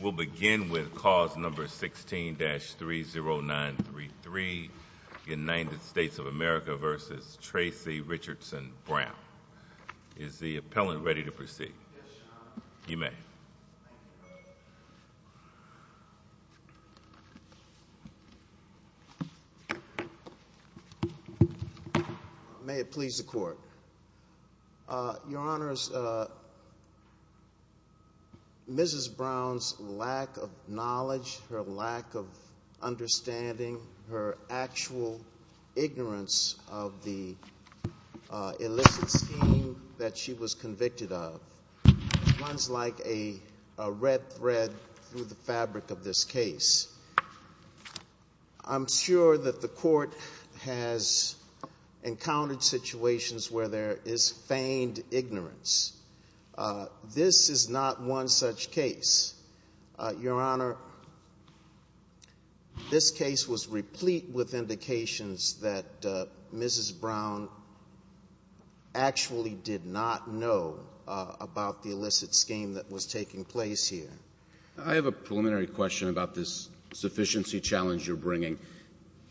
We'll begin with cause number 16-30933, United States of America v. Tracy Richardson Brown. Is the appellant ready to proceed? May it please the court. Your Honor, Mrs. Brown's lack of knowledge, her lack of understanding, her actual ignorance of the illicit scheme that she was convicted of runs like a red thread through the fabric of this case. I'm sure that the court has encountered situations where there is feigned ignorance. This is not one such case. Your Honor, this case was replete with indications that Mrs. Brown actually did not know about the illicit scheme that was taking place here. Justice Breyer I have a preliminary question about this sufficiency challenge you're bringing.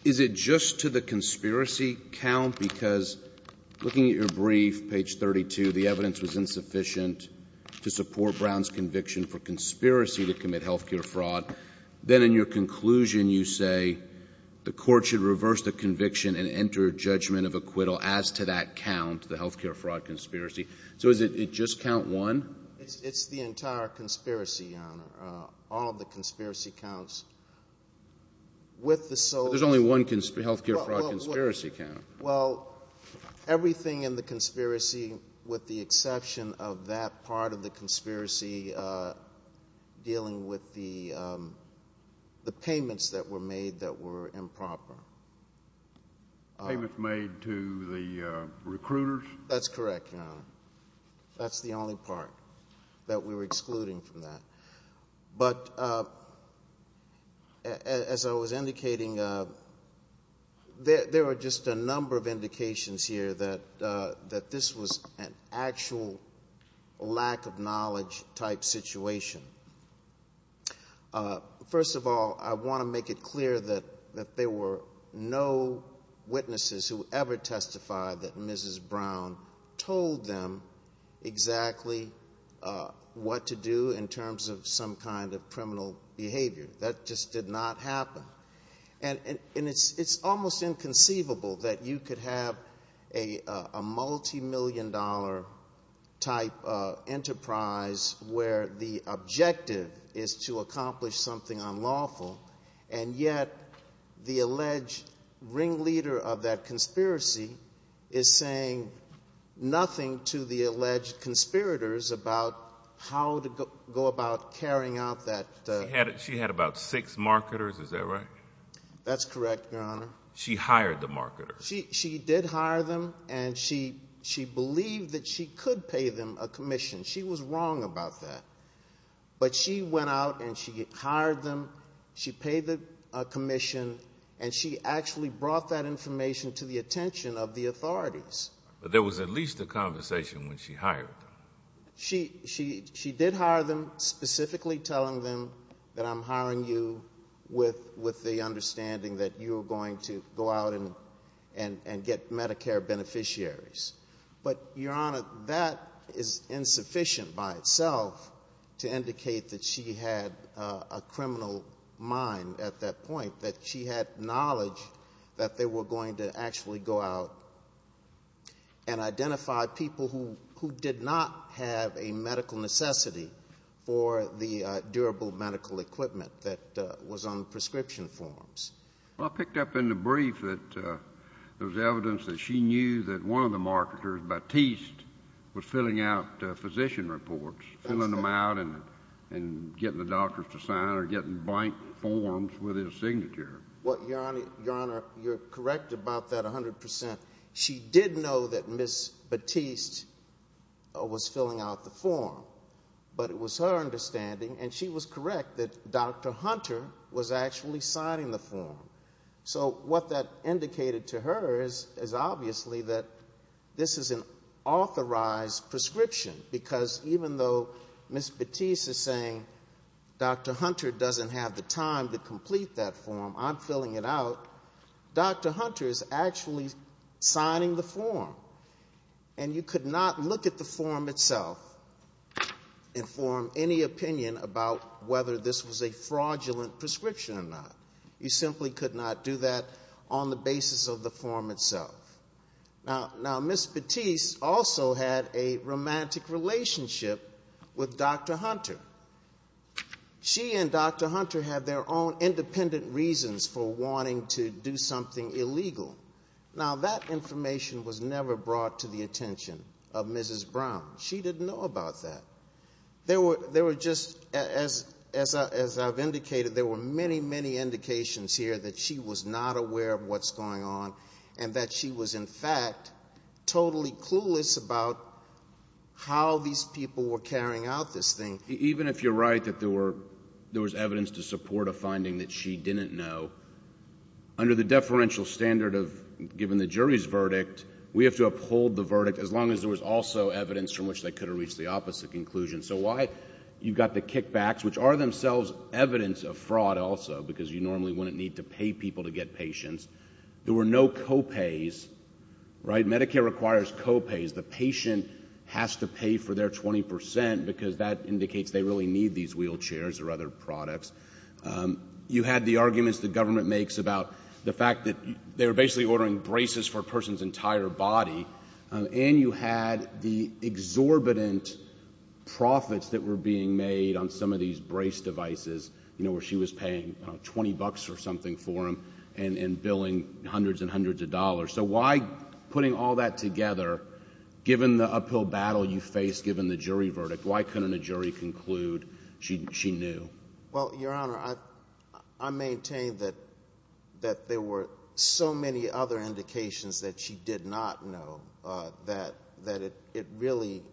Is it just to the conspiracy count? Because looking at your brief, page 32, the evidence was insufficient to support Brown's conviction for conspiracy to commit health care fraud. Then in your conclusion you say the court should reverse the conviction and enter judgment of acquittal as to that count, the health care fraud conspiracy. So does it just count one? Justice Breyer It's the entire conspiracy, Your Honor. All of the conspiracy counts with the sole... Justice Breyer There's only one health care fraud conspiracy count. Justice Breyer Well, everything in the conspiracy, with the exception of that part of the conspiracy dealing with the payments that were made that were improper. The payments made to the recruiters? Justice Breyer That's correct, Your Honor. That's the only part that we were excluding from that. But as I was indicating, there were just a number of indications here that this was an actual lack of knowledge type situation. First of all, I want to make it clear that there were no witnesses who ever testified that Mrs. Brown told them exactly what to do in terms of some kind of criminal behavior. That just did not happen. And it's almost inconceivable that you could have a multimillion dollar type enterprise where the yet the alleged ringleader of that conspiracy is saying nothing to the alleged conspirators about how to go about carrying out that... Justice Breyer She had about six marketers, is that right? Justice Breyer That's correct, Your Honor. Justice Breyer She hired the marketers. Justice Breyer She did hire them, and she believed that she could pay them a commission. She was a commission, and she actually brought that information to the attention of the authorities. Justice Breyer But there was at least a conversation when she hired them. Justice Breyer She did hire them, specifically telling them that I'm hiring you with the understanding that you're going to go out and get Medicare beneficiaries. But, Your Honor, that is insufficient by itself to indicate that she had a criminal mind at that point, that she had knowledge that they were going to actually go out and identify people who did not have a medical necessity for the durable medical equipment that was on prescription forms. Justice Breyer Well, I picked up in the brief that there was evidence that she knew that one of the marketers, Batiste, was filling out physician reports, filling them out and getting the doctors to sign or getting blank forms with his signature. Justice Breyer Well, Your Honor, you're correct about that 100 percent. She did know that Ms. Batiste was filling out the form, but it was her understanding, and she was correct, that Dr. Hunter was actually signing the form. So what that indicated to her is obviously that this is an authorized prescription, because even though Ms. Batiste is saying Dr. Hunter doesn't have the time to complete that form, I'm filling it out, Dr. Hunter is actually signing the form. And you could not look at the form itself and form any opinion about whether this was a fraudulent prescription or not. You simply could not do that on the basis of the form itself. Now, Ms. Batiste also had a romantic relationship with Dr. Hunter. She and Dr. Hunter had their own independent reasons for wanting to do something illegal. Now, that information was never brought to the attention of Mrs. Brown. She didn't know about that. There were just, as I've indicated, there were many, many indications here that she was not aware of what's going on and that she was, in fact, totally clueless about how these people were carrying out this thing. Even if you're right that there was evidence to support a finding that she didn't know, under the deferential standard of giving the jury's verdict, we have to uphold the verdict as long as there was also evidence from which they could have reached the opposite conclusion. So while you've got the kickbacks, which are themselves evidence of fraud also, because you normally wouldn't need to pay people to get patients, there were no co-pays, right? Medicare requires co-pays. The patient has to pay for their 20 percent because that indicates they really need these wheelchairs or other products. You had the arguments the government makes about the fact that they were basically ordering braces for a person's entire body, and you had the exorbitant profits that were being made on some of these brace devices, you know, where she was paying 20 bucks or something for them and billing hundreds and hundreds of dollars. So why, putting all that together, given the uphill battle you face given the jury verdict, why couldn't a jury conclude she knew? Well, Your Honor, I maintain that there were so many other indications that she did not know that it really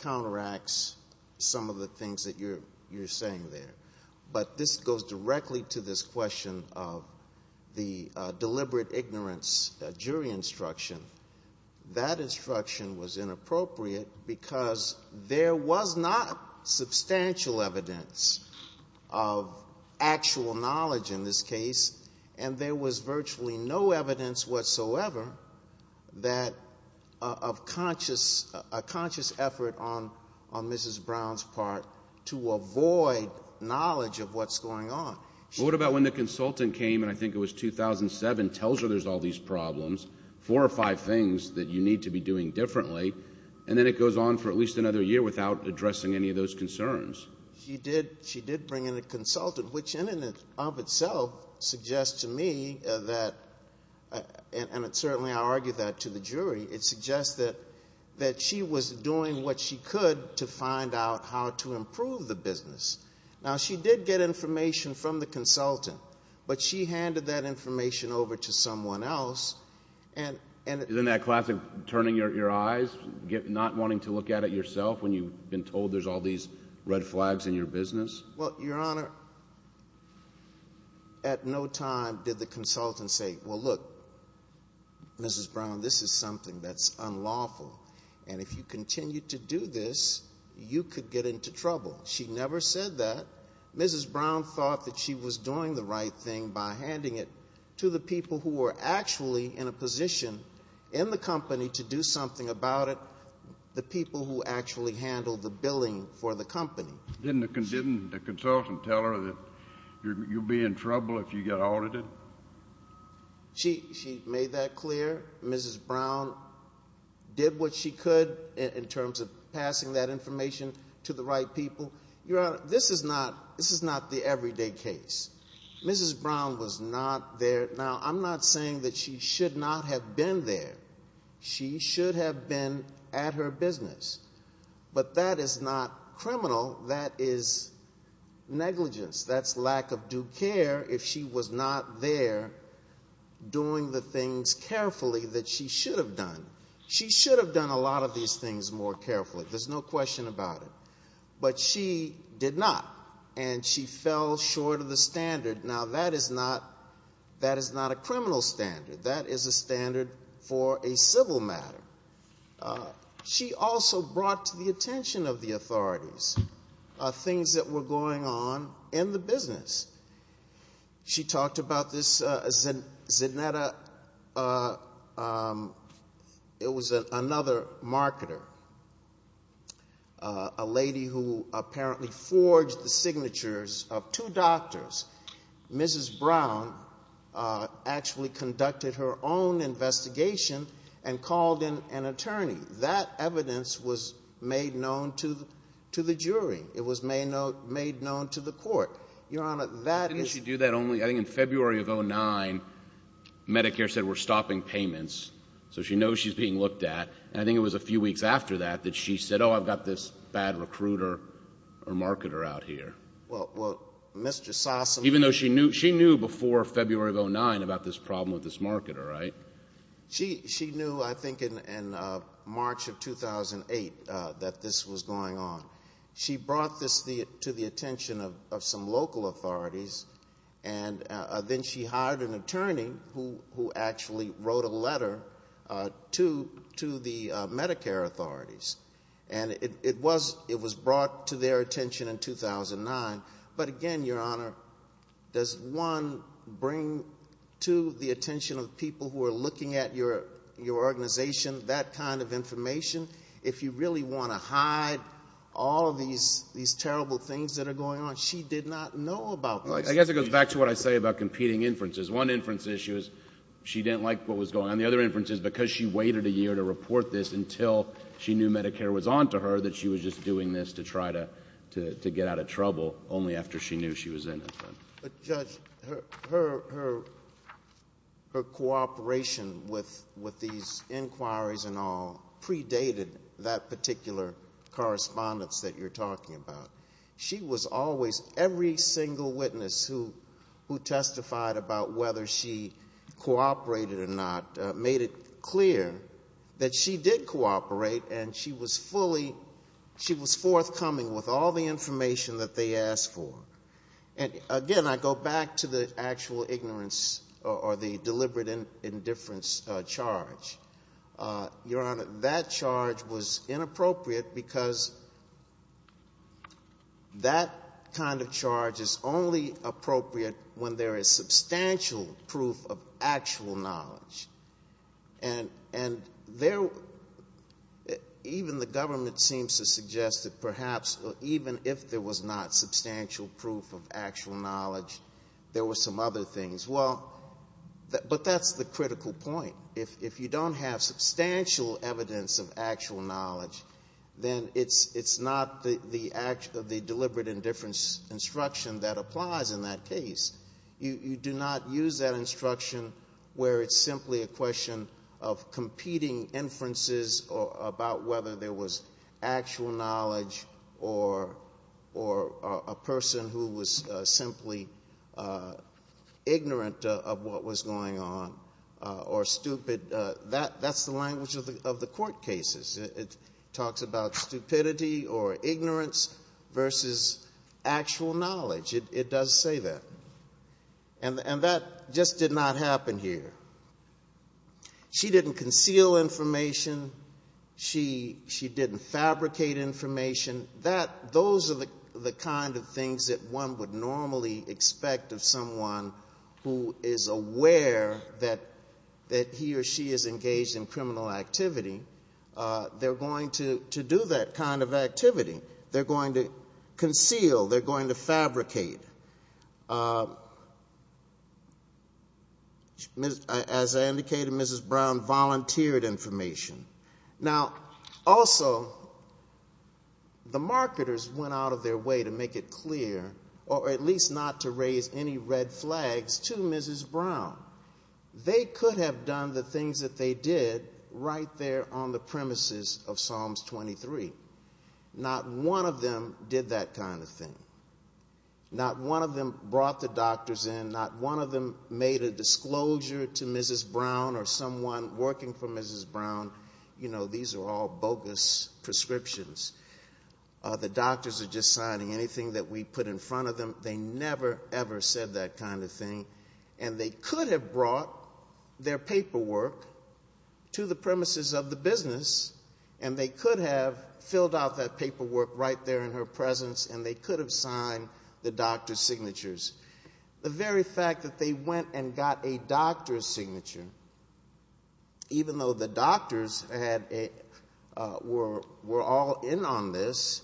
counteracts some of the things that you're saying there. But this goes directly to this question of the deliberate ignorance jury instruction. That instruction was inappropriate because there was not substantial evidence of actual knowledge in this case, and there was virtually no evidence whatsoever that of a conscious effort on Mrs. Brown's part to avoid knowledge of what's going on. What about when the consultant came, and I think it was 2007, tells her there's all these problems, four or five things that you need to be doing differently, and then it goes on for at least another year without addressing any of those concerns? She did bring in a consultant, which in and of itself suggests to me that, and certainly I argue that to the jury, it suggests that she was doing what she could to find out how to improve the business. Now, she did get information from the consultant, but she handed that information over to someone else. Isn't that classic turning your eyes, not wanting to look at it yourself when you've been told there's all these red flags in your business? Well, Your Honor, at no time did the consultant say, well, look, Mrs. Brown, this is something that's unlawful, and if you continue to do this, you could get into trouble. She never said that. Mrs. Brown thought that she was doing the right thing by handing it to the people who were actually in a position in the company to do something about it, the people who actually handled the billing for the company. Didn't the consultant tell her that you'll be in trouble if you get audited? She made that clear. Mrs. Brown did what she could in terms of passing that information to the right people. Your Honor, this is not the everyday case. Mrs. Brown was not there. Now, I'm not saying that she should not have been there. She should have been at her business. But that is not criminal. That is negligence. That's lack of due care if she was not there doing the things carefully that she should have done. She should have done a lot of these things more carefully. There's no question about it. But she did not, and she fell short of the standard. Now, that is not a criminal standard. That is a standard for a civil matter. She also brought to the attention of the authorities things that were going on in the business. She talked about this Zanetta. It was another marketer, a lady who apparently forged the signatures of two doctors. Mrs. Brown actually conducted her own investigation and called in an attorney. That evidence was made known to the jury. It was made known to the court. Your Honor, that is — Didn't she do that only — I think in February of 2009, Medicare said, we're stopping payments. So she knows she's being looked at. And I think it was a few weeks after that that she said, oh, I've got this bad recruiter or marketer out here. Well, Mr. Sossam — Even though she knew — she knew before February of 2009 about this problem with this marketer, she knew, I think, in March of 2008 that this was going on. She brought this to the attention of some local authorities. And then she hired an attorney who actually wrote a letter to the Medicare authorities. And it was brought to their attention in 2009. But again, Your Honor, does, one, bring to the attention of people who are looking at your organization that kind of information? If you really want to hide all of these terrible things that are going on, she did not know about this. I guess it goes back to what I say about competing inferences. One inference is she didn't like what was going on. The other inference is because she waited a year to report this until she knew Medicare was on to her, that she was just doing this to try to get out of trouble only after she knew she was innocent. But, Judge, her cooperation with these inquiries and all predated that particular correspondence that you're talking about. She was always — every single witness who testified about whether she cooperated or not made it clear that she did cooperate and she was fully — she was forthcoming with all the information that they asked for. And again, I go back to the actual ignorance or the deliberate indifference charge. Your Honor, that charge was inappropriate because that kind of charge is only appropriate when there is substantial proof of actual knowledge. And there — even the government seems to suggest that perhaps even if there was not substantial proof of actual knowledge, there were some other things. Well, but that's the critical point. If you don't have substantial evidence of actual knowledge, then it's not the deliberate indifference instruction that applies in that case. You do not use that instruction where it's simply a question of competing inferences about whether there was actual knowledge or a person who was simply ignorant of what was going on or stupid. That's the language of the court cases. It talks about stupidity or ignorance versus actual knowledge. It does say that. And that just did not happen here. She didn't conceal information. She didn't fabricate information. Those are the kind of things that one would normally expect of someone who is aware that he or she is engaged in criminal activity. They're going to do that kind of activity. They're going to conceal. They're going to fabricate. As I indicated, Mrs. Brown volunteered information. Now, also, the marketers went out of their way to make it clear or at least not to raise any red flags to Mrs. Brown. They could have done the things that they did right there on the premises of Psalms 23. Not one of them did that kind of thing. Not one of them brought the doctors in. Not one of them made a disclosure to Mrs. Brown or someone working for Mrs. Brown. You know, these are all bogus prescriptions. The doctors are just signing anything that we put in front of them. They never, ever said that kind of thing. And they could have brought their paperwork to the premises of the business, and they could have filled out that paperwork right there in her presence, and they could have signed the doctor's signatures. The very fact that they went and got a doctor's signature, even though the doctors were all in on this,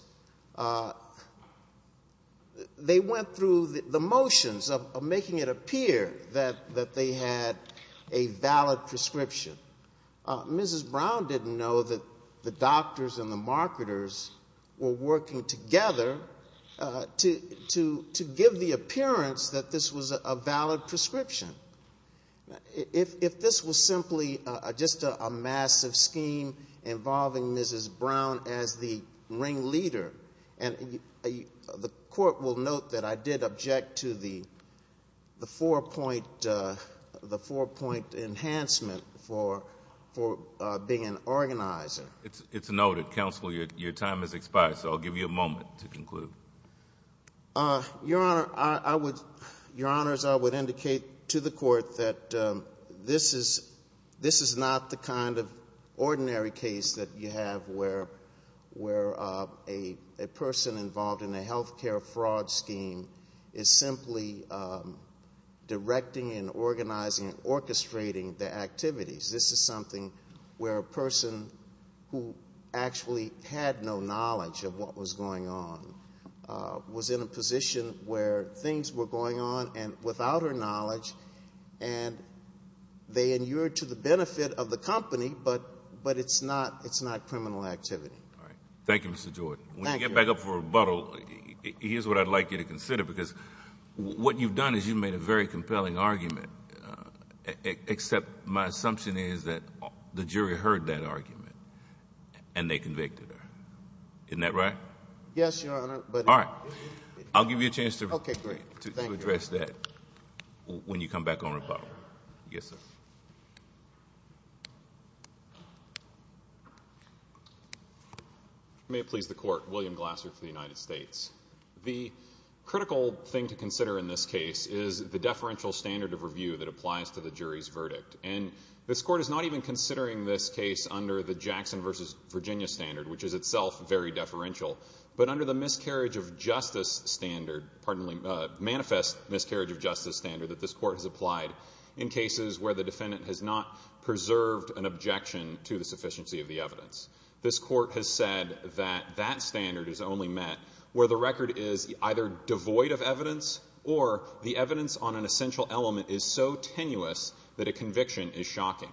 they went through the motions of making it appear that they had a valid prescription. Mrs. Brown didn't know that the doctors and the doctors were working together to give the appearance that this was a valid prescription. If this was simply just a massive scheme involving Mrs. Brown as the ring leader, the court will note that I did object to the four-point enhancement for being an organizer. It's noted. Counsel, your time has expired, so I'll give you a moment to conclude. Your Honor, I would indicate to the court that this is not the kind of ordinary case that you have where a person involved in a health care fraud scheme is simply directing and organizing orchestrating the activities. This is something where a person who actually had no knowledge of what was going on was in a position where things were going on without her knowledge, and they inured to the benefit of the company, but it's not criminal activity. All right. Thank you, Mr. Jordan. When you get back up for rebuttal, here's what I'd like you to consider, because what you've done is you've made a very compelling argument, except my assumption is that the jury heard that argument and they convicted her. Isn't that right? Yes, Your Honor. All right. I'll give you a chance to address that when you come back on rebuttal. Yes, sir. May it please the court. William Glasser for the United States. The critical thing to consider in this case is the deferential standard of review that applies to the jury's verdict. This court is not even considering this case under the Jackson v. Virginia standard, which is itself very deferential, but under the manifest miscarriage of justice standard that this court has applied in cases where the defendant has not preserved an objection to the sufficiency of the evidence. This court has said that that standard is only met where the record is either devoid of evidence or the evidence on an essential element is so tenuous that a conviction is shocking.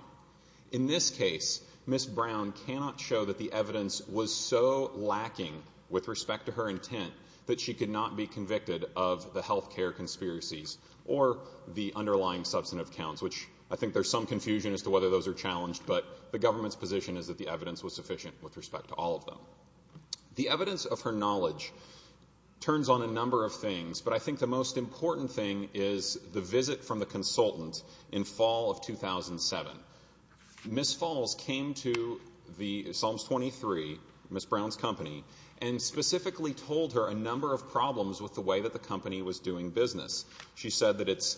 In this case, Ms. Brown cannot show that the evidence was so lacking with respect to her intent that she could not be convicted of the health care conspiracies or the underlying substantive counts, which I think there's some confusion as to whether those are challenged, but the government's position is that the evidence was sufficient with respect to all of them. The evidence of her knowledge turns on a number of things, but I think the most important thing is the visit from the consultant in fall of 2007. Ms. Falls came to the Solomons 23, Ms. Brown's company, and specifically told her a number of problems with the way that the company was doing business. She said that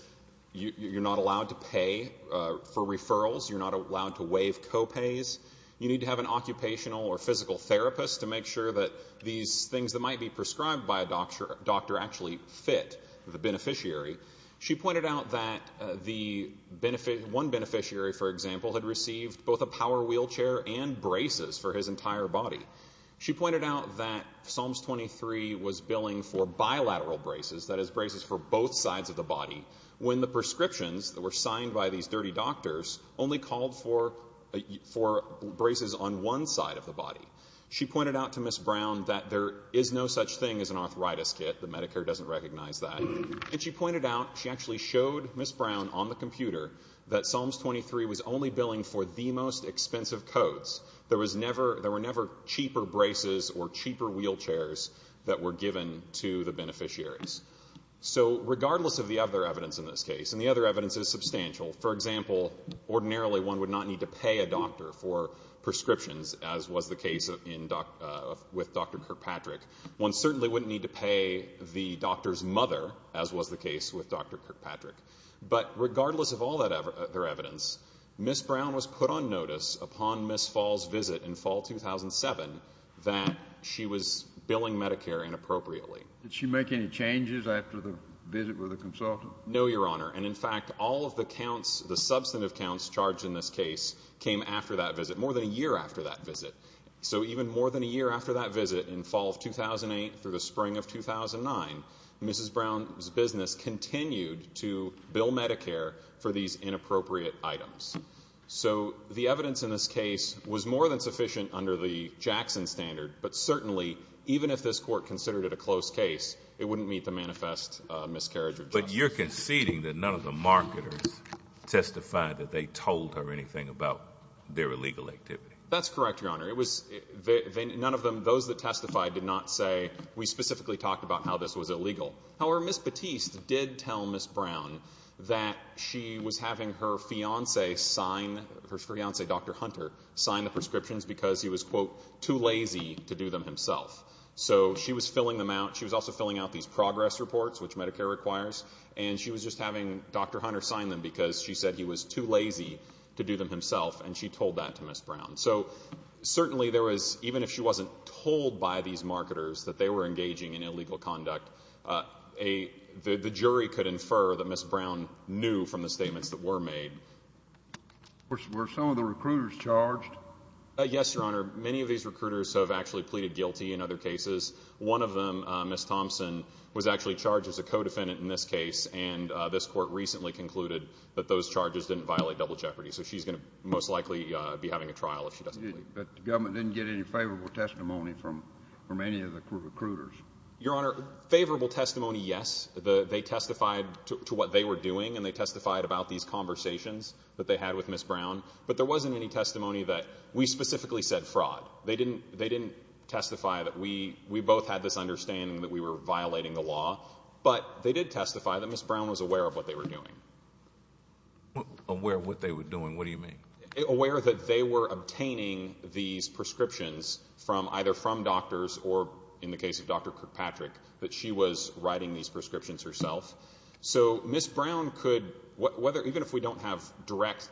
you're not allowed to pay for referrals, you're not allowed to waive co-pays, you need to have an occupational or physical therapist to make sure that these things that might be prescribed by a doctor actually fit the beneficiary. She pointed out that one beneficiary, for example, had received both a power wheelchair and braces for his entire body. She pointed out that Solomons 23 was billing for bilateral braces, that is braces for both sides of the body, when the prescriptions that were signed by these dirty doctors only called for braces on one side of the body. She pointed out to Ms. Brown that there is no such thing as an arthritis kit, the Medicare doesn't recognize that, and she pointed out, she actually showed Ms. Brown on the computer, that Solomons 23 was only billing for the most expensive coats. There was never, there were never cheaper braces or cheaper wheelchairs that were given to the other evidence in this case, and the other evidence is substantial. For example, ordinarily one would not need to pay a doctor for prescriptions, as was the case with Dr. Kirkpatrick. One certainly wouldn't need to pay the doctor's mother, as was the case with Dr. Kirkpatrick. But regardless of all that other evidence, Ms. Brown was put on notice upon Ms. Fall's visit in fall 2007 that she was billing Medicare inappropriately. Did she make any changes after the visit with the consultant? No, your honor, and in fact all of the counts, the substantive counts charged in this case, came after that visit, more than a year after that visit. So even more than a year after that visit, in fall of 2008 through the spring of 2009, Mrs. Brown's business continued to bill Medicare for these inappropriate items. So the evidence in this case was more than sufficient under the Jackson standard, but certainly even if this court considered it a close case, it wouldn't meet the manifest miscarriage of justice. But you're conceding that none of the marketers testified that they told her anything about their illegal activity? That's correct, your honor. It was none of them, those that testified did not say, we specifically talked about how this was illegal. However, Ms. Batiste did tell Ms. Brown that she was having her fiancé sign, her fiancé Dr. Hunter, sign the prescriptions because he was too lazy to do them himself. So she was filling them out, she was also filling out these progress reports, which Medicare requires, and she was just having Dr. Hunter sign them because she said he was too lazy to do them himself and she told that to Ms. Brown. So certainly there was, even if she wasn't told by these marketers that they were engaging in illegal conduct, the jury could infer that Ms. Brown knew from the statements that were made. Were some of the recruiters charged? Yes, your honor. Many of these recruiters have actually pleaded guilty in other cases. One of them, Ms. Thompson, was actually charged as a co-defendant in this case, and this court recently concluded that those charges didn't violate double jeopardy. So she's going to most likely be having a trial if she doesn't plead guilty. But the government didn't get any favorable testimony from any of the recruiters? Your honor, favorable testimony, yes. They testified to what they were doing and they testified about these conversations that they had with Ms. Brown, but there wasn't any testimony that we specifically said fraud. They didn't testify that we both had this understanding that we were violating the law, but they did testify that Ms. Brown was aware of what they were doing. Aware of what they were doing, what do you mean? Aware that they were obtaining these prescriptions from either from doctors or, in the case of Dr. Kirkpatrick, that she was writing these direct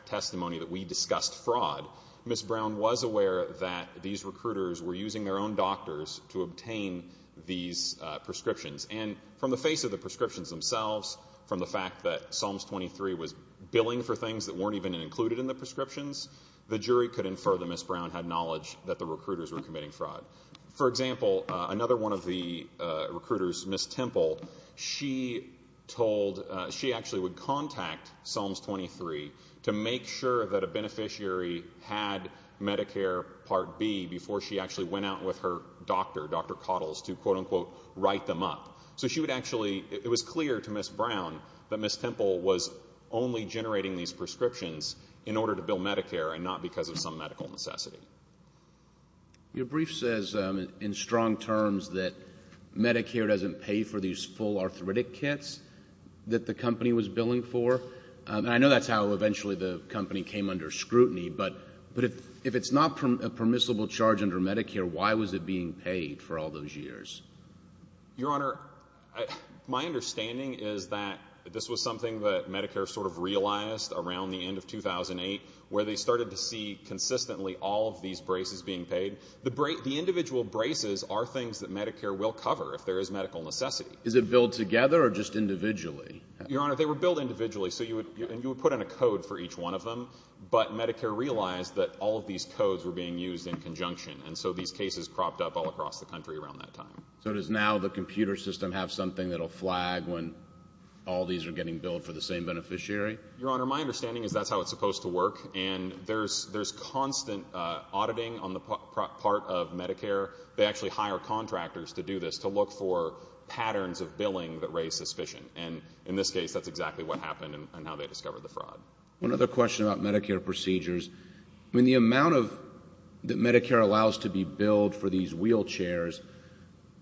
testimonies that we discussed fraud, Ms. Brown was aware that these recruiters were using their own doctors to obtain these prescriptions. And from the face of the prescriptions themselves, from the fact that Psalms 23 was billing for things that weren't even included in the prescriptions, the jury could infer that Ms. Brown had knowledge that the recruiters were committing fraud. For example, another one of the recruiters, Ms. Temple, she actually would contact Psalms 23 to make sure that a beneficiary had Medicare Part B before she actually went out with her doctor, Dr. Cottles, to quote-unquote write them up. So she would actually, it was clear to Ms. Brown that Ms. Temple was only generating these prescriptions in order to bill Medicare and not because of some medical necessity. Your brief says in strong terms that Medicare doesn't pay for these full arthritic kits that the company was billing for. I know that's how eventually the company came under scrutiny, but if it's not a permissible charge under Medicare, why was it being paid for all those years? Your Honor, my understanding is that this was something that Medicare sort of realized around the end of 2008, where they started to see consistently all of these braces being paid. The individual braces are things that Medicare will Is it billed together or just individually? Your Honor, they were billed individually, so you would put in a code for each one of them, but Medicare realized that all of these codes were being used in conjunction, and so these cases cropped up all across the country around that time. So does now the computer system have something that'll flag when all these are getting billed for the same beneficiary? Your Honor, my understanding is that's how it's supposed to work, and there's constant auditing on the part of Medicare. They actually hire contractors to look for patterns of billing that raise suspicion, and in this case, that's exactly what happened and how they discovered the fraud. One other question about Medicare procedures. The amount that Medicare allows to be billed for these wheelchairs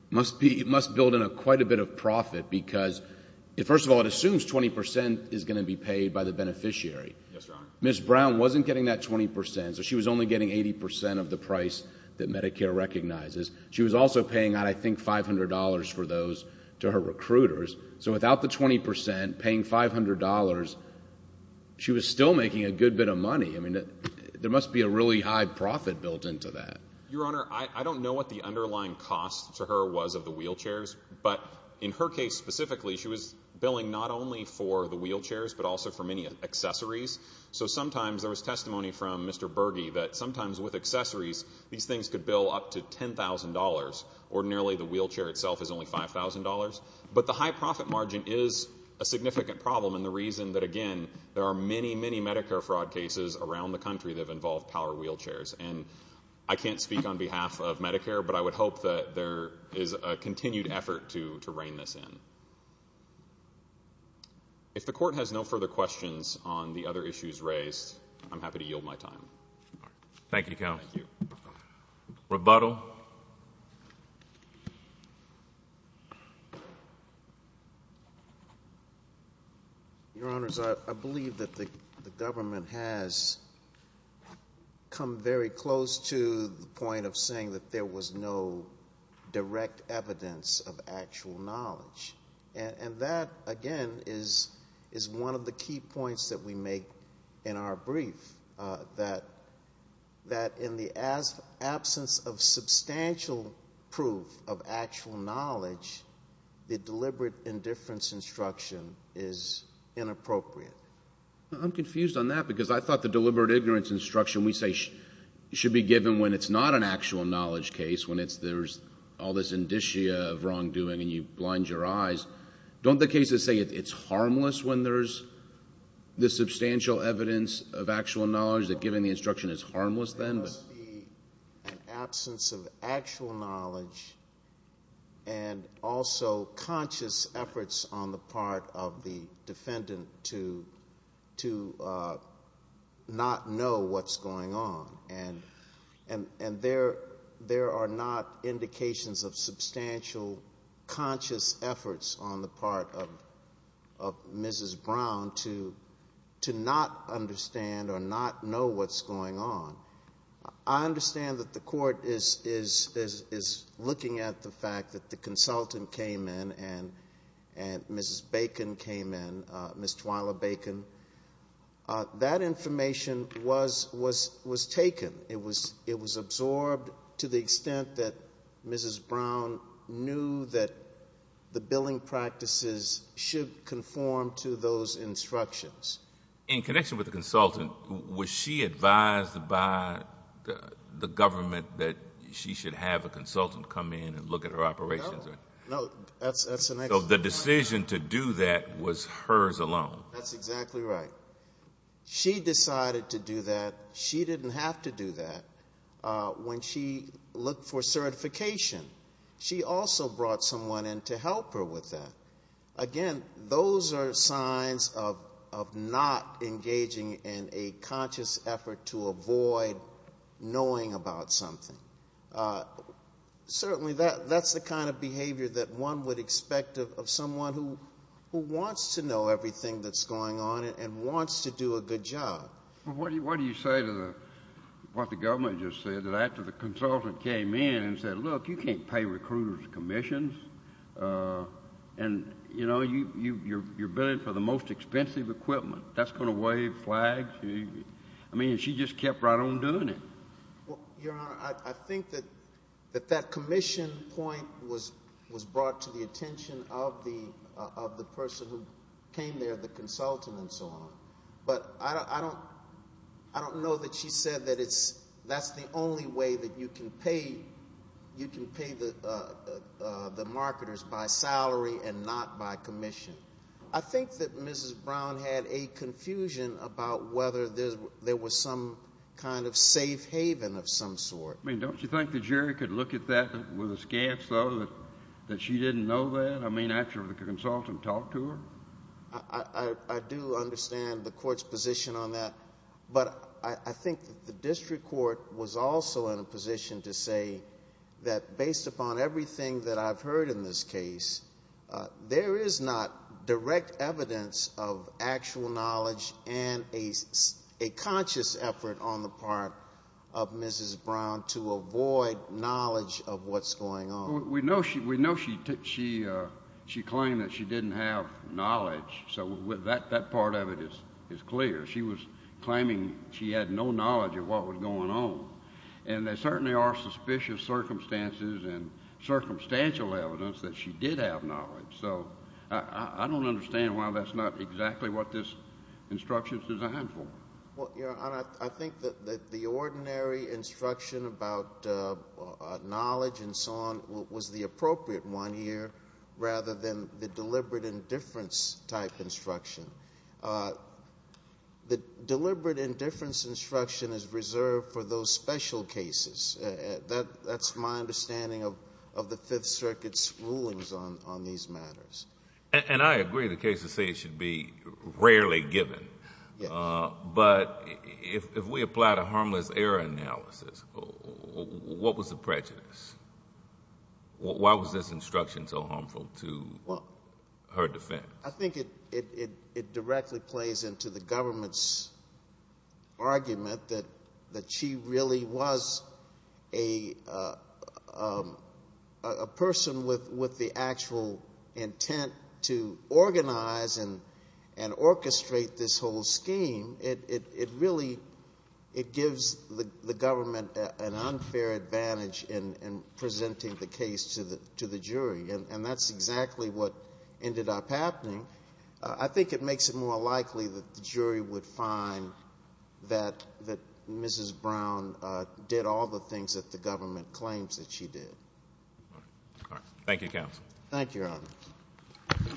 must build in quite a bit of profit because, first of all, it assumes 20% is going to be paid by the beneficiary. Yes, Your Honor. Ms. Brown wasn't getting that 20%, so she was only getting 80% of the price that Medicare recognizes. She was also paying out, I think, $500 for those to her recruiters, so without the 20%, paying $500, she was still making a good bit of money. I mean, there must be a really high profit built into that. Your Honor, I don't know what the underlying cost to her was of the wheelchairs, but in her case specifically, she was billing not only for the wheelchairs but also for many accessories, so sometimes there was testimony from Mr. Berge that sometimes with accessories, these things could bill up to $10,000. Ordinarily, the wheelchair itself is only $5,000, but the high profit margin is a significant problem and the reason that, again, there are many, many Medicare fraud cases around the country that have involved power wheelchairs, and I can't speak on behalf of Medicare, but I would hope that there is a continued effort to rein this in. If the Court has no further questions on the other issues raised, I'm happy to yield my rebuttal. Your Honors, I believe that the government has come very close to the point of saying that there was no direct evidence of actual knowledge, and that, again, is one of the key points that we make in our brief, that in the absence of substantial proof of actual knowledge, the deliberate indifference instruction is inappropriate. I'm confused on that because I thought the deliberate ignorance instruction we say should be given when it's not an actual knowledge case, when there's all this indicia of wrongdoing and you blind your eyes. Don't the the substantial evidence of actual knowledge that given the instruction is harmless then? There must be an absence of actual knowledge and also conscious efforts on the part of the defendant to not know what's going on, and there are not indications of substantial conscious efforts on the part of Mrs. Brown to not understand or not know what's going on. I understand that the Court is looking at the fact that the consultant came in and Mrs. Bacon came in, Ms. Twyla Bacon. That information was taken. It was absorbed to the extent that Mrs. Brown knew that the billing practices should conform to those instructions. In connection with the consultant, was she advised by the government that she should have a consultant come in and look at her operations? No, that's the next point. The decision to do that was hers alone. That's exactly right. She decided to do that. She didn't have to do that when she looked for certification. She also brought someone in to help her with that. Again, those are signs of not engaging in a conscious effort to avoid knowing about something. Certainly that's the kind of behavior that one would expect of someone who wants to go to the consultant. The government just said that after the consultant came in and said, look, you can't pay recruiters commissions. You're billing for the most expensive equipment. That's going to waive flags. She just kept right on doing it. Your Honor, I think that that commission point was brought to the attention of the person who said that's the only way that you can pay the marketers by salary and not by commission. I think that Mrs. Brown had a confusion about whether there was some kind of safe haven of some sort. Don't you think the jury could look at that with a scant thought that she didn't know that after the consultant talked to her? I do understand the court's position on that, but I think the district court was also in a position to say that based upon everything that I've heard in this case, there is not direct evidence of actual knowledge and a conscious effort on the part of Mrs. Brown to avoid knowledge of what's going on. We know she claimed that she didn't have knowledge. That part of it is clear. She was claiming she had no knowledge of what was going on. There certainly are suspicious circumstances and circumstantial evidence that she did have knowledge. I don't understand why that's not exactly what this instruction is designed for. Your Honor, I think that the ordinary instruction about knowledge and so on was the appropriate one here, rather than the deliberate indifference type instruction. The deliberate indifference instruction is reserved for those special cases. That's my understanding of the Fifth Circuit's rulings on these matters. I agree the case should be rarely given, but if we apply the harmless error analysis, what was the prejudice? Why was this instruction so harmful to her defense? I think it directly plays into the government's argument that she really was a person with the actual intent to organize and orchestrate this whole scheme. It really gives the government an unfair advantage in presenting the case to the jury. That's exactly what ended up happening. I think it makes it more likely that the jury would find that Mrs. Brown did all the things that the government claims that she did. Thank you, counsel. Thank you, Your Honor.